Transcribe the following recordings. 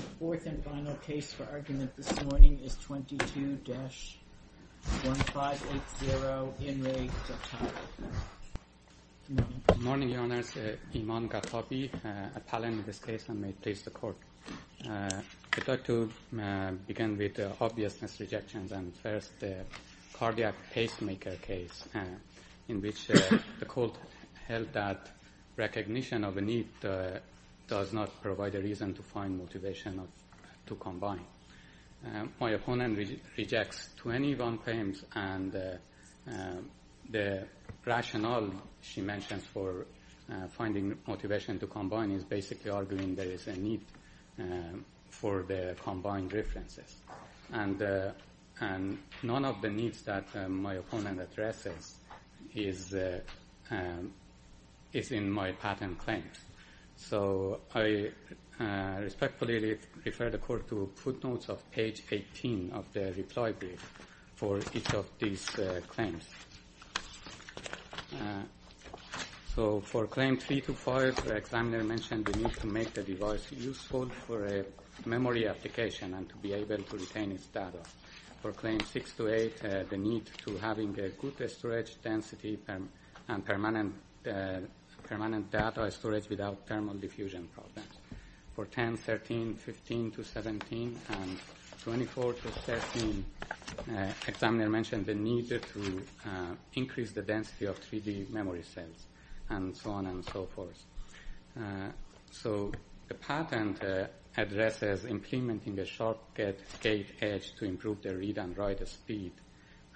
The fourth and final case for argument this morning is 22-1580 Imran Gatabi. Good morning. Good morning, Your Honours. Imran Gatabi, appellant in this case, and may it please the Court. I'd like to begin with obvious misrejections. First, the cardiac pacemaker case, in which the court held that recognition of a need does not provide a reason to find motivation to combine. My opponent rejects 21 claims, and the rationale she mentions for finding motivation to combine is basically arguing there is a need for the combined references. And none of the needs that my opponent addresses is in my patent claims. So I respectfully refer the Court to footnotes of page 18 of the reply brief for each of these claims. So for claim 3-5, the examiner mentioned the need to make the device useful for a memory application and to be able to retain its data. For claim 6-8, the need to having a good storage density and permanent data storage without thermal diffusion problems. For 10-13, 15-17, and 24-13, the examiner mentioned the need to increase the density of 3D memory cells, and so on and so forth. So the patent addresses implementing a shortcut gate edge to improve the read and write speed,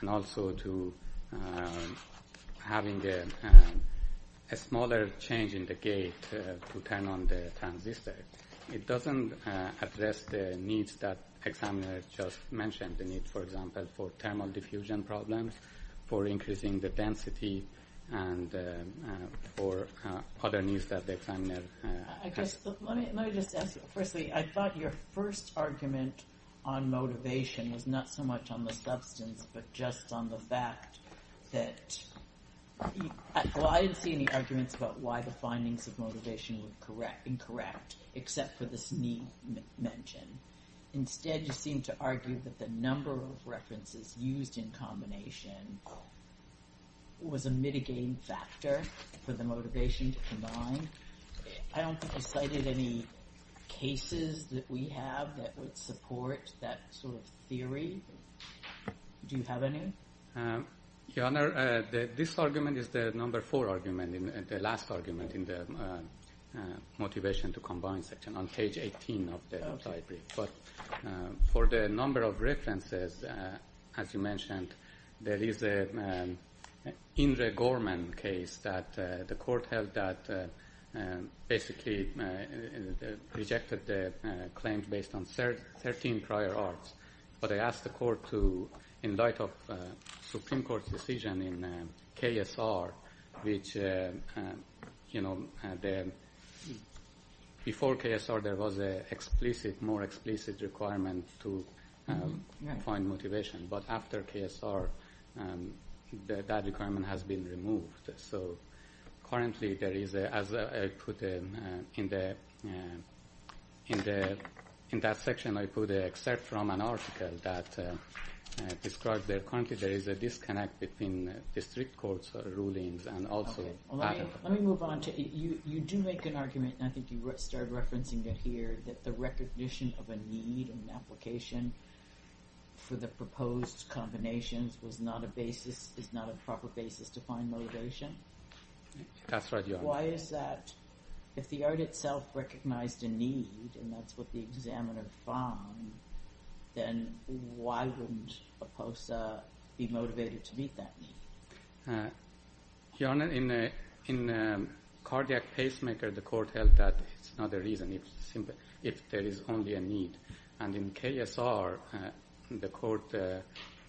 and also to having a smaller change in the gate to turn on the transistor. It doesn't address the needs that the examiner just mentioned. The need, for example, for thermal diffusion problems, for increasing the density, and for other needs that the examiner... Let me just ask you. Firstly, I thought your first argument on motivation was not so much on the substance, but just on the fact that... Well, I didn't see any arguments about why the findings of motivation were incorrect, except for this need mentioned. Instead, you seem to argue that the number of references used in combination was a mitigating factor for the motivation to combine. I don't think you cited any cases that we have that would support that sort of theory. Do you have any? Your Honor, this argument is the number four argument, and the last argument in the motivation to combine section on page 18 of the brief. But for the number of references, as you mentioned, there is an Indra Gorman case that the court held that basically rejected the claims based on 13 prior arts. But I asked the court to, in light of the Supreme Court's decision in KSR, which, you know, before KSR there was a more explicit requirement to find motivation. But after KSR, that requirement has been removed. So currently there is, as I put in that section, I put except from an article that describes that currently there is a disconnect between district courts' rulings and also... Let me move on. You do make an argument, and I think you started referencing it here, that the recognition of a need in the application for the proposed combinations is not a proper basis to find motivation. That's right, Your Honor. Why is that? If the art itself recognized a need, and that's what the examiner found, then why wouldn't a POSA be motivated to meet that need? Your Honor, in Cardiac Pacemaker, the court held that it's not a reason. It's simply if there is only a need. And in KSR, the court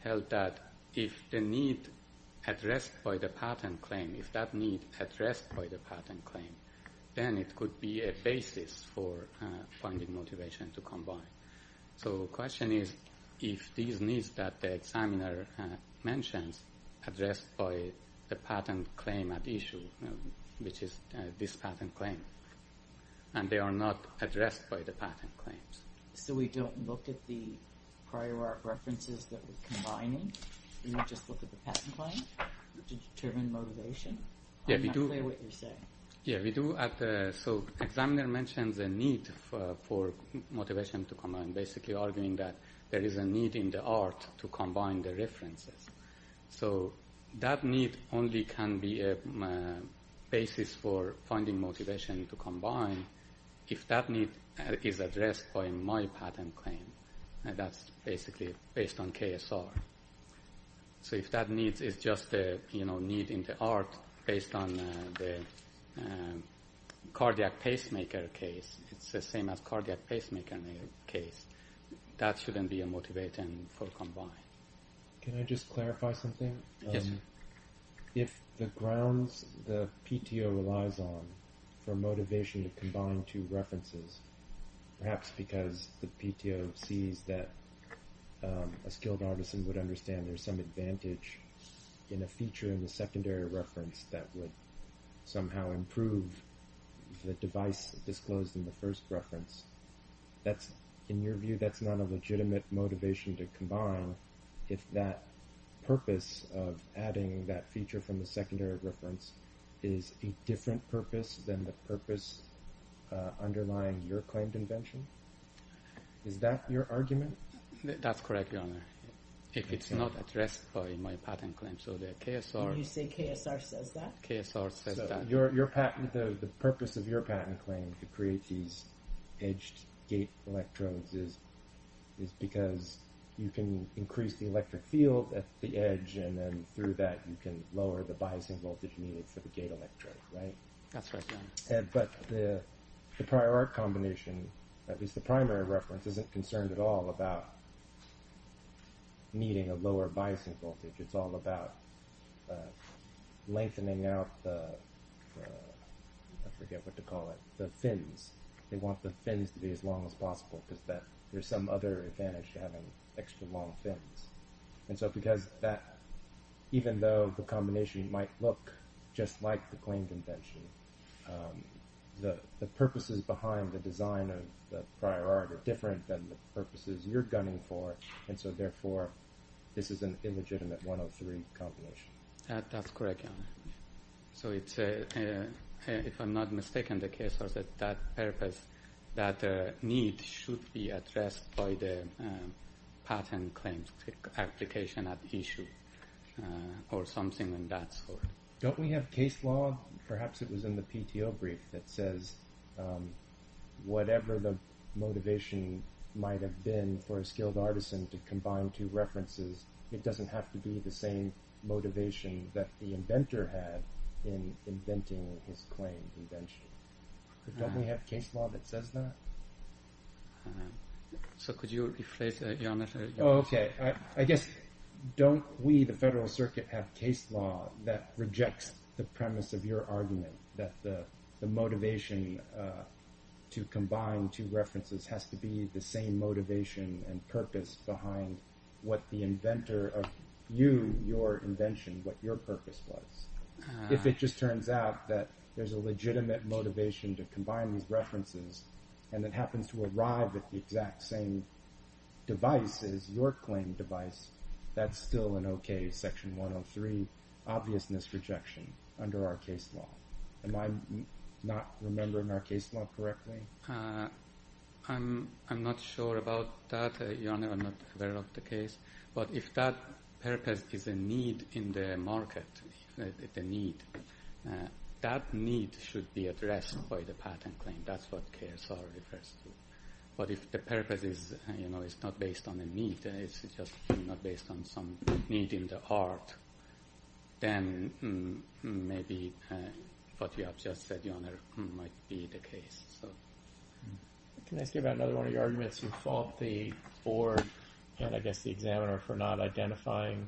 held that if the need addressed by the patent claim, if that need addressed by the patent claim, then it could be a basis for finding motivation to combine. So the question is if these needs that the examiner mentions addressed by the patent claim at issue, which is this patent claim, and they are not addressed by the patent claims. So we don't look at the prior art references that we're combining? We don't just look at the patent claims to determine motivation? I'm not clear what you're saying. Yeah, we do. So the examiner mentions a need for motivation to combine, basically arguing that there is a need in the art to combine the references. So that need only can be a basis for finding motivation to combine if that need is addressed by my patent claim, and that's basically based on KSR. So if that need is just a need in the art based on the Cardiac Pacemaker case, it's the same as Cardiac Pacemaker case, that shouldn't be a motivator for combining. Can I just clarify something? Yes, sir. If the grounds the PTO relies on for motivation to combine two references, perhaps because the PTO sees that a skilled artisan would understand there's some advantage in a feature in the secondary reference that would somehow improve the device disclosed in the first reference, in your view that's not a legitimate motivation to combine if that purpose of adding that feature from the secondary reference is a different purpose than the purpose underlying your claimed invention? Is that your argument? That's correct, Your Honor. If it's not addressed by my patent claim, so the KSR says that. The purpose of your patent claim to create these edged gate electrodes is because you can increase the electric field at the edge and then through that you can lower the biasing voltage needed for the gate electrodes, right? That's right, Your Honor. But the prior art combination, at least the primary reference, isn't concerned at all about needing a lower biasing voltage. It's all about lengthening out the, I forget what to call it, the fins. They want the fins to be as long as possible because there's some other advantage to having extra long fins. And so because that, even though the combination might look just like the claimed invention, the purposes behind the design of the prior art are different than the purposes you're gunning for and so therefore this is an illegitimate 103 combination. That's correct, Your Honor. So it's, if I'm not mistaken, the KSR said that purpose, that need, should be addressed by the patent claims application at issue or something of that sort. Don't we have case law, perhaps it was in the PTO brief, that says whatever the motivation might have been for a skilled artisan to combine two references, it doesn't have to be the same motivation that the inventor had in inventing his claimed invention. Don't we have case law that says that? So could you rephrase that, Your Honor? Oh, okay. I guess don't we, the Federal Circuit, have case law that rejects the premise of your argument that the motivation to combine two references has to be the same motivation and purpose behind what the inventor of you, your invention, what your purpose was. If it just turns out that there's a legitimate motivation to combine these references and it happens to arrive at the exact same device as your claimed device, that's still an okay Section 103 obviousness rejection under our case law. Am I not remembering our case law correctly? I'm not sure about that, Your Honor. I'm not aware of the case. But if that purpose is a need in the market, the need, that need should be addressed by the patent claim. That's what KSR refers to. But if the purpose is not based on a need, it's just not based on some need in the art, then maybe what you have just said, Your Honor, might be the case. Can I ask you about another one of your arguments? You fault the board, and I guess the examiner, for not identifying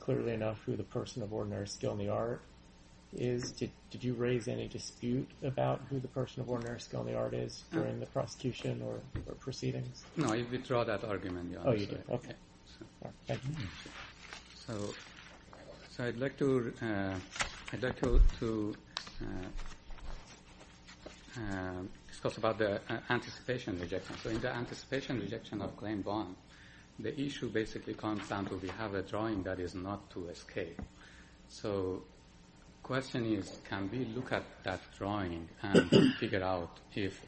clearly enough who the person of ordinary skill in the art is. Did you raise any dispute about who the person of ordinary skill in the art is during the prosecution or proceedings? No, you withdraw that argument, Your Honor. Oh, you did. Okay. So I'd like to discuss about the anticipation rejection. So in the anticipation rejection of claim one, the issue basically comes down to we have a drawing that is not to escape. So the question is, can we look at that drawing and figure out if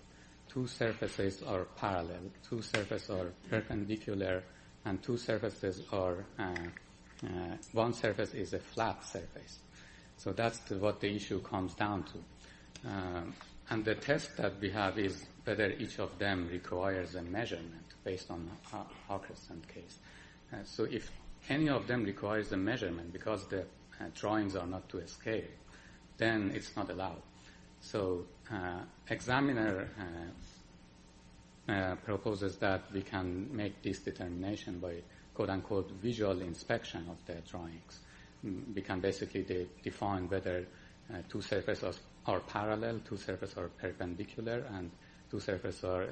two surfaces are parallel, and two surfaces are perpendicular, and two surfaces are, one surface is a flat surface. So that's what the issue comes down to. And the test that we have is whether each of them requires a measurement based on the Augustine case. So if any of them requires a measurement because the drawings are not to escape, then it's not allowed. So examiner proposes that we can make this determination by quote-unquote visual inspection of the drawings. We can basically define whether two surfaces are parallel, two surfaces are perpendicular, and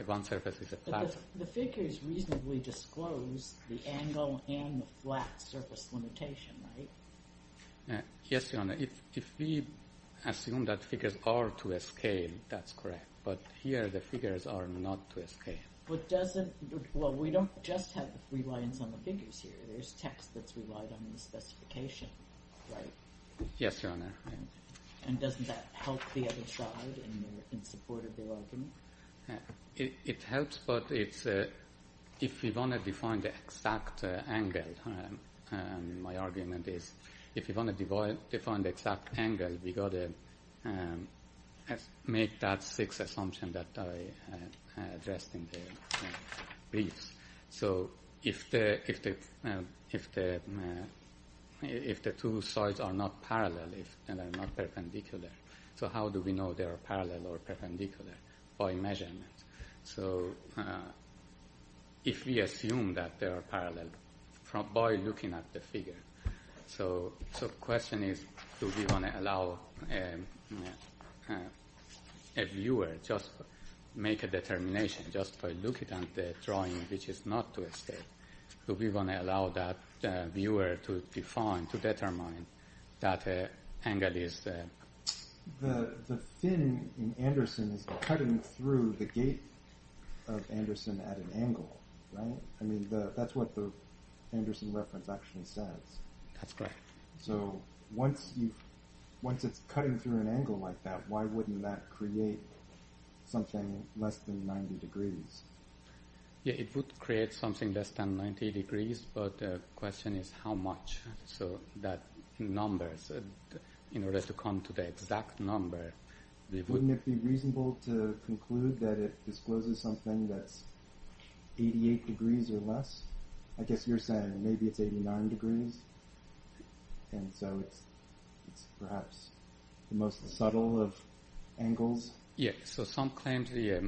one surface is a flat surface. The figures reasonably disclose the angle and the flat surface limitation, right? Yes, Your Honor. If we assume that figures are to escape, that's correct. But here the figures are not to escape. But doesn't... Well, we don't just have reliance on the figures here. There's text that's relied on the specification, right? Yes, Your Honor. And doesn't that help the other side in support of the argument? It helps, but it's... If we want to define the exact angle, my argument is if we want to define the exact angle, we've got to make that sixth assumption that I addressed in the briefs. So if the two sides are not parallel and are not perpendicular, so how do we know they are parallel or perpendicular? By measurement. So if we assume that they are parallel by looking at the figure. So the question is, do we want to allow a viewer to make a determination just by looking at the drawing which is not to escape? Do we want to allow that viewer to define, to determine that angle is... The thing in Anderson is cutting through the gate of Anderson at an angle, right? I mean, that's what the Anderson reference actually says. That's correct. So once it's cutting through an angle like that, why wouldn't that create something less than 90 degrees? Yeah, it would create something less than 90 degrees, but the question is how much. So that number, in order to come to the exact number... Wouldn't it be reasonable to conclude that it discloses something that's 88 degrees or less? I guess you're saying maybe it's 89 degrees, and so it's perhaps the most subtle of angles. Yeah, so some claims it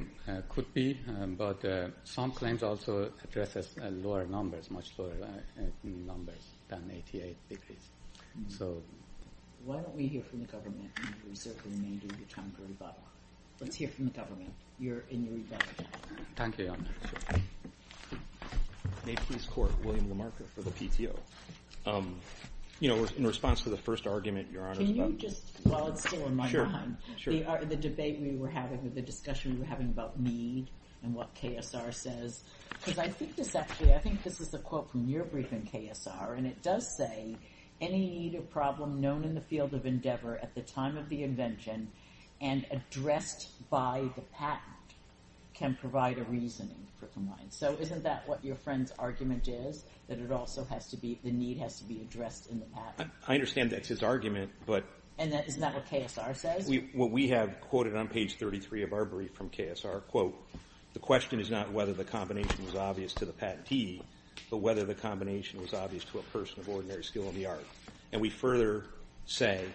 could be, but some claims also address lower numbers, than 88 degrees. Why don't we hear from the government and reserve the remainder of your time for rebuttal? Let's hear from the government in your rebuttal. Thank you, Your Honor. May Peace Court, William LaMarca for the PTO. In response to the first argument, Your Honor... Can you just, while it's still on my mind, the debate we were having, the discussion we were having about need and what KSR says, because I think this actually, I think this is a quote from your brief in KSR, and it does say, any need or problem known in the field of endeavor at the time of the invention and addressed by the patent can provide a reasoning for compliance. So isn't that what your friend's argument is, that it also has to be, the need has to be addressed in the patent? I understand that's his argument, but... And isn't that what KSR says? What we have quoted on page 33 of our brief from KSR, quote, the question is not whether the combination was obvious to the patentee, but whether the combination was obvious to a person of ordinary skill in the art. And we further say,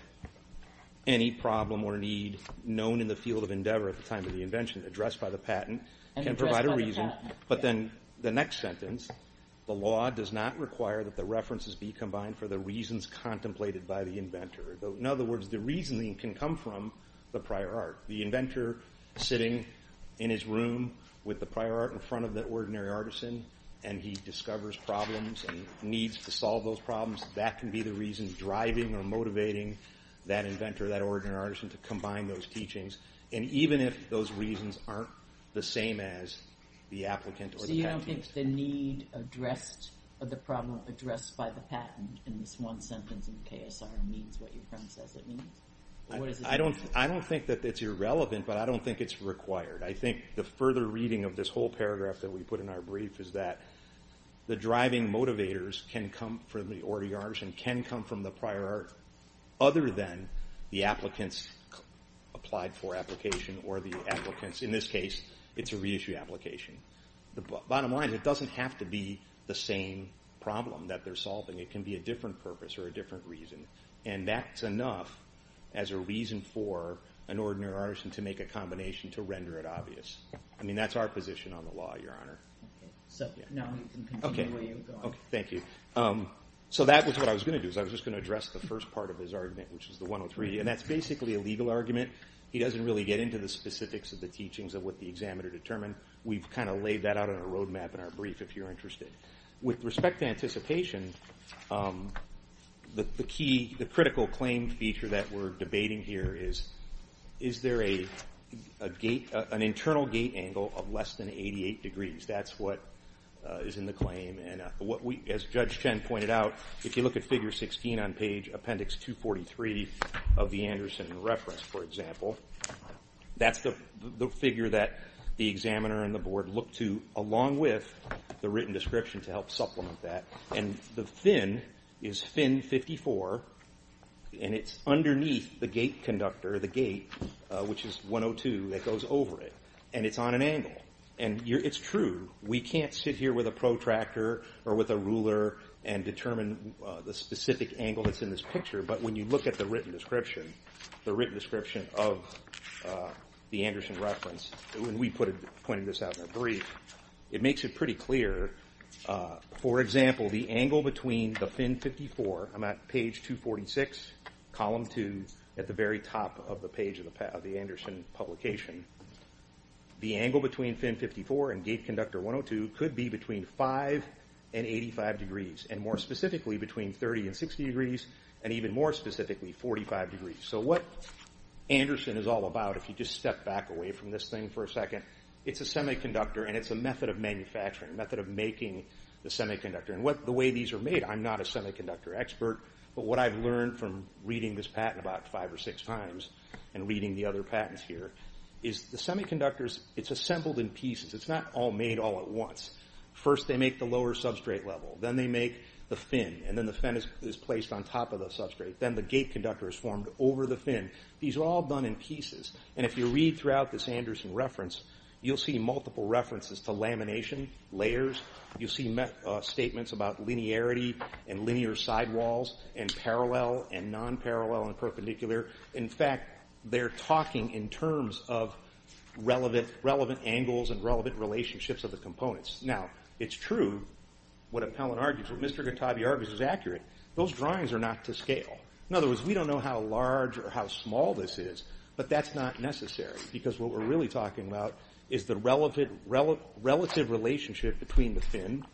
any problem or need known in the field of endeavor at the time of the invention and addressed by the patent can provide a reason. But then the next sentence, the law does not require that the references be combined for the reasons contemplated by the inventor. In other words, the reasoning can come from the prior art. The inventor sitting in his room with the prior art in front of the ordinary artisan, and he discovers problems and needs to solve those problems, that can be the reason driving or motivating that inventor, that ordinary artisan, to combine those teachings. And even if those reasons aren't the same as the applicant or the patentee... So you don't think the need addressed, or the problem addressed by the patent in this one sentence in KSR means what your friend says it means? I don't think that it's irrelevant, but I don't think it's required. I think the further reading of this whole paragraph that we put in our brief is that the driving motivators can come from the ordinary artisan, can come from the prior art, other than the applicants applied for application or the applicants, in this case, it's a reissue application. Bottom line, it doesn't have to be the same problem that they're solving. It can be a different purpose or a different reason. And that's enough as a reason for an ordinary artisan to make a combination to render it obvious. I mean, that's our position on the law, Your Honor. So now we can continue where you were going. Okay, thank you. So that was what I was going to do, I was just going to address the first part of his argument, which is the 103, and that's basically a legal argument. He doesn't really get into the specifics of the teachings of what the examiner determined. We've kind of laid that out on a roadmap in our brief if you're interested. With respect to anticipation, the critical claim feature that we're debating here is is there an internal gate angle of less than 88 degrees? That's what is in the claim. And as Judge Chen pointed out, if you look at Figure 16 on page Appendix 243 of the Anderson and Refress, for example, that's the figure that the examiner and the board look to along with the written description to help supplement that. And the fin is fin 54, and it's underneath the gate conductor, the gate, which is 102, that goes over it. And it's on an angle. And it's true, we can't sit here with a protractor or with a ruler and determine the specific angle that's in this picture, but when you look at the written description, the written description of the Anderson Reference, and we pointed this out in our brief, it makes it pretty clear. For example, the angle between the fin 54, I'm at page 246, column 2, at the very top of the page of the Anderson publication, the angle between fin 54 and gate conductor 102 could be between 5 and 85 degrees, and more specifically, between 30 and 60 degrees, and even more specifically, 45 degrees. So what Anderson is all about, if you just step back away from this thing for a second, it's a semiconductor, and it's a method of manufacturing, a method of making the semiconductor. And the way these are made, I'm not a semiconductor expert, but what I've learned from reading this patent about five or six times and reading the other patents here is the semiconductors, it's assembled in pieces. It's not all made all at once. First, they make the lower substrate level. Then they make the fin, and then the fin is placed on top of the substrate. Then the gate conductor is formed over the fin. These are all done in pieces. And if you read throughout this Anderson Reference, you'll see multiple references to lamination, layers. You'll see statements about linearity and linear sidewalls, and parallel and non-parallel and perpendicular. In fact, they're talking in terms of relevant angles and relevant relationships of the components. Now, it's true what Appellant argues, what Mr. Gattabi argues is accurate. Those drawings are not to scale. In other words, we don't know how large or how small this is, but that's not necessary, because what we're really talking about is the relative relationship between the fin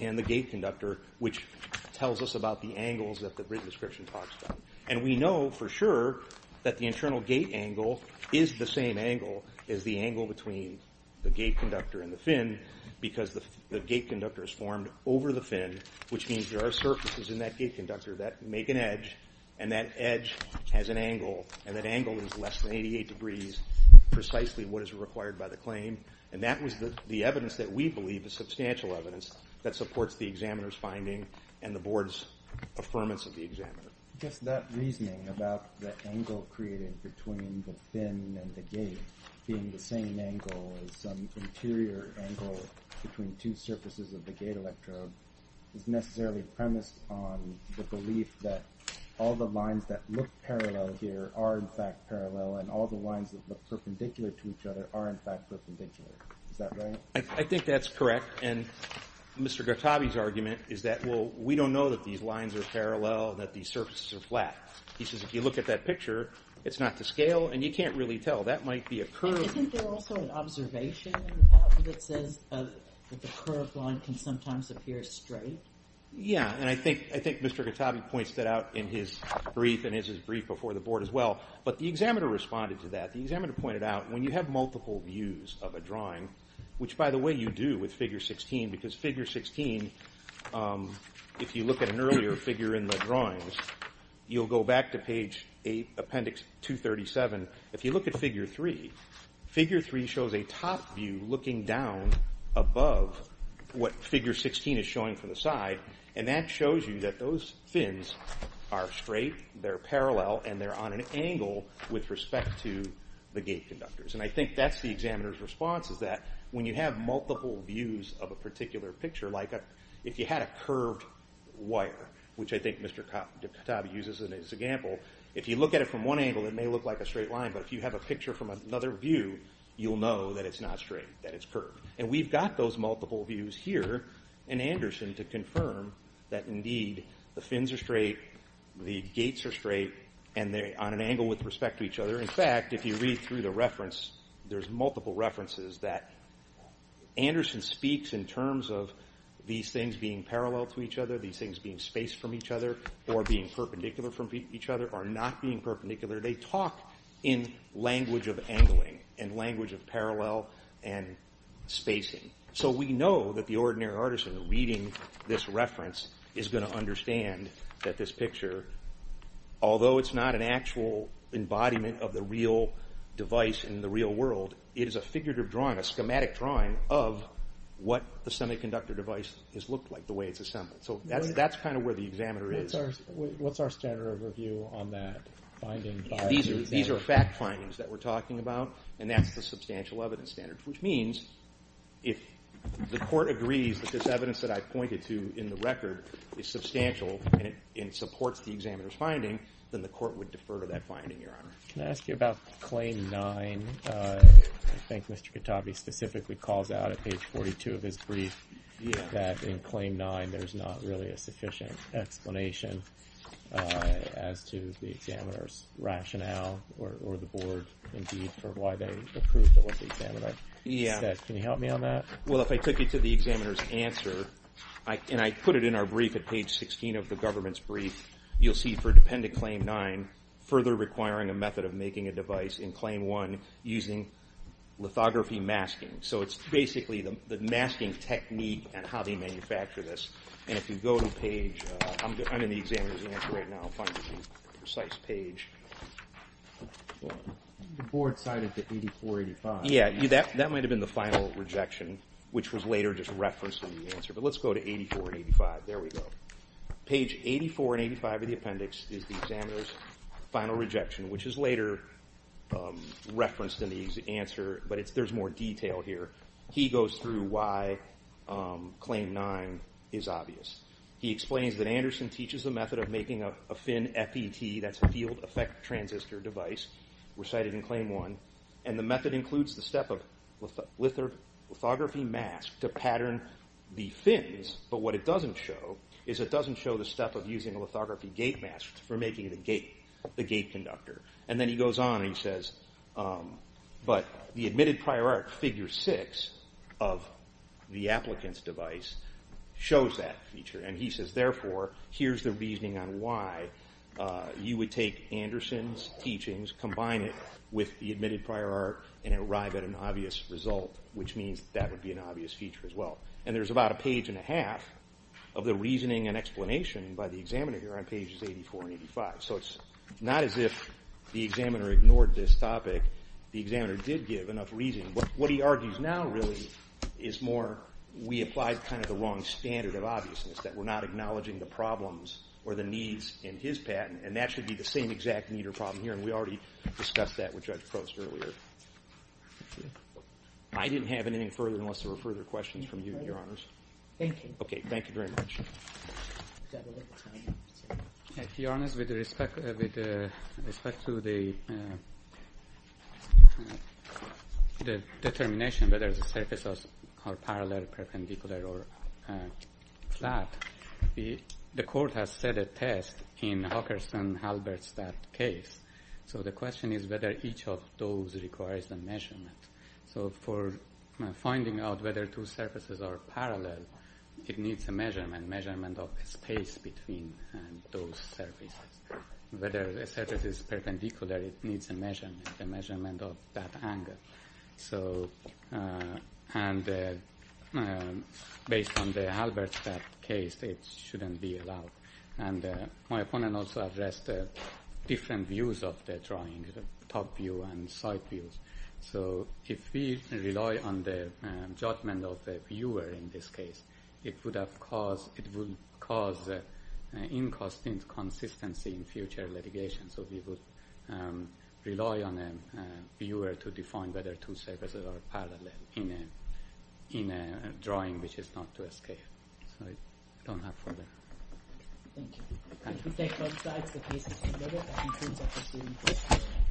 and the gate conductor, which tells us about the angles that the written description talks about. And we know for sure that the internal gate angle is the same angle as the angle between the gate conductor and the fin, because the gate conductor is formed over the fin, which means there are surfaces in that gate conductor that make an edge, and that edge has an angle, and that angle is less than 88 degrees, precisely what is required by the claim. And that was the evidence that we believe, the substantial evidence, that supports the examiner's finding and the board's affirmance of the examiner. I guess that reasoning about the angle created between the fin and the gate being the same angle as some interior angle between two surfaces of the gate electrode is necessarily premised on the belief that all the lines that look parallel here are in fact parallel, and all the lines that look perpendicular to each other are in fact perpendicular. Is that right? I think that's correct, and Mr. Gattabi's argument is that, well, we don't know that these lines are parallel, that these surfaces are flat. He says if you look at that picture, it's not to scale, and you can't really tell. That might be a curve. Isn't there also an observation in the paper that says that the curved line can sometimes appear straight? Yeah, and I think Mr. Gattabi points that out in his brief and his brief before the board as well. But the examiner responded to that. The examiner pointed out, when you have multiple views of a drawing, which, by the way, you do with figure 16, because figure 16, if you look at an earlier figure in the drawings, you'll go back to page 8, appendix 237. If you look at figure 3, figure 3 shows a top view looking down above what figure 16 is showing from the side, and that shows you that those fins are straight, they're parallel, and they're on an angle with respect to the gate conductors. And I think that's the examiner's response, is that when you have multiple views of a particular picture, like if you had a curved wire, which I think Mr. Gattabi uses as an example, if you look at it from one angle, it may look like a straight line, but if you have a picture from another view, you'll know that it's not straight, that it's curved. And we've got those multiple views here in Anderson to confirm that, indeed, the fins are straight, the gates are straight, and they're on an angle with respect to each other. In fact, if you read through the reference, there's multiple references that Anderson speaks in terms of these things being parallel to each other, these things being spaced from each other, or being perpendicular from each other, or not being perpendicular. They talk in language of angling and language of parallel and spacing. So we know that the ordinary artisan reading this reference is going to understand that this picture, although it's not an actual embodiment of the real device in the real world, it is a figurative drawing, a schematic drawing, of what the semiconductor device has looked like, the way it's assembled. So that's kind of where the examiner is. What's our standard of review on that finding? These are fact findings that we're talking about, and that's the substantial evidence standard, which means if the Court agrees that this evidence that I pointed to in the record is substantial and supports the examiner's finding, then the Court would defer to that finding, Your Honor. Can I ask you about Claim 9? I think Mr. Katabi specifically calls out at page 42 of his brief that in Claim 9 there's not really a sufficient explanation as to the examiner's rationale or the Board, indeed, for why they approved of what the examiner said. Can you help me on that? Well, if I took you to the examiner's answer, and I put it in our brief at page 16 of the government's brief, you'll see for dependent Claim 9, further requiring a method of making a device in Claim 1 using lithography masking. So it's basically the masking technique and how they manufacture this. And if you go to page... I'm in the examiner's answer right now. I'll find the precise page. The Board cited the 84-85. Yeah, that might have been the final rejection, which was later just referenced in the answer. But let's go to 84-85. There we go. Page 84 and 85 of the appendix is the examiner's final rejection, which is later referenced in the answer, but there's more detail here. He goes through why Claim 9 is obvious. He explains that Anderson teaches the method of making a fin FET, that's a field effect transistor device, recited in Claim 1, and the method includes the step of lithography mask to pattern the fins, but what it doesn't show is it doesn't show the step of using a lithography gate mask for making the gate conductor. And then he goes on and he says, but the Admitted Prior Art, Figure 6 of the applicant's device shows that feature. And he says, therefore, here's the reasoning on why you would take Anderson's teachings, combine it with the Admitted Prior Art, and arrive at an obvious result, which means that would be an obvious feature as well. And there's about a page and a half of the reasoning and explanation by the examiner here on pages 84 and 85. So it's not as if the examiner ignored this topic. The examiner did give enough reason. What he argues now, really, is more, we applied kind of the wrong standard of obviousness, that we're not acknowledging the problems or the needs in his patent, and that should be the same exact need or problem here, and we already discussed that with Judge Crouse earlier. I didn't have anything further unless there were further questions from you, Your Honors. Thank you. Okay, thank you very much. Your Honors, with respect to the determination whether the surfaces are parallel, perpendicular, or flat, the Court has set a test in Hockerson-Halbert's case. So the question is whether each of those requires a measurement. So for finding out whether two surfaces are parallel, it needs a measurement, measurement of space between those surfaces. Whether a surface is perpendicular, it needs a measurement, a measurement of that angle. And based on the Halbert's case, it shouldn't be allowed. And my opponent also addressed different views of the drawing, the top view and side views. So if we rely on the judgment of the viewer in this case, it would cause inconsistency in future litigation. So we would rely on a viewer to define whether two surfaces are parallel in a drawing which is not to escape. So I don't have further... Thank you.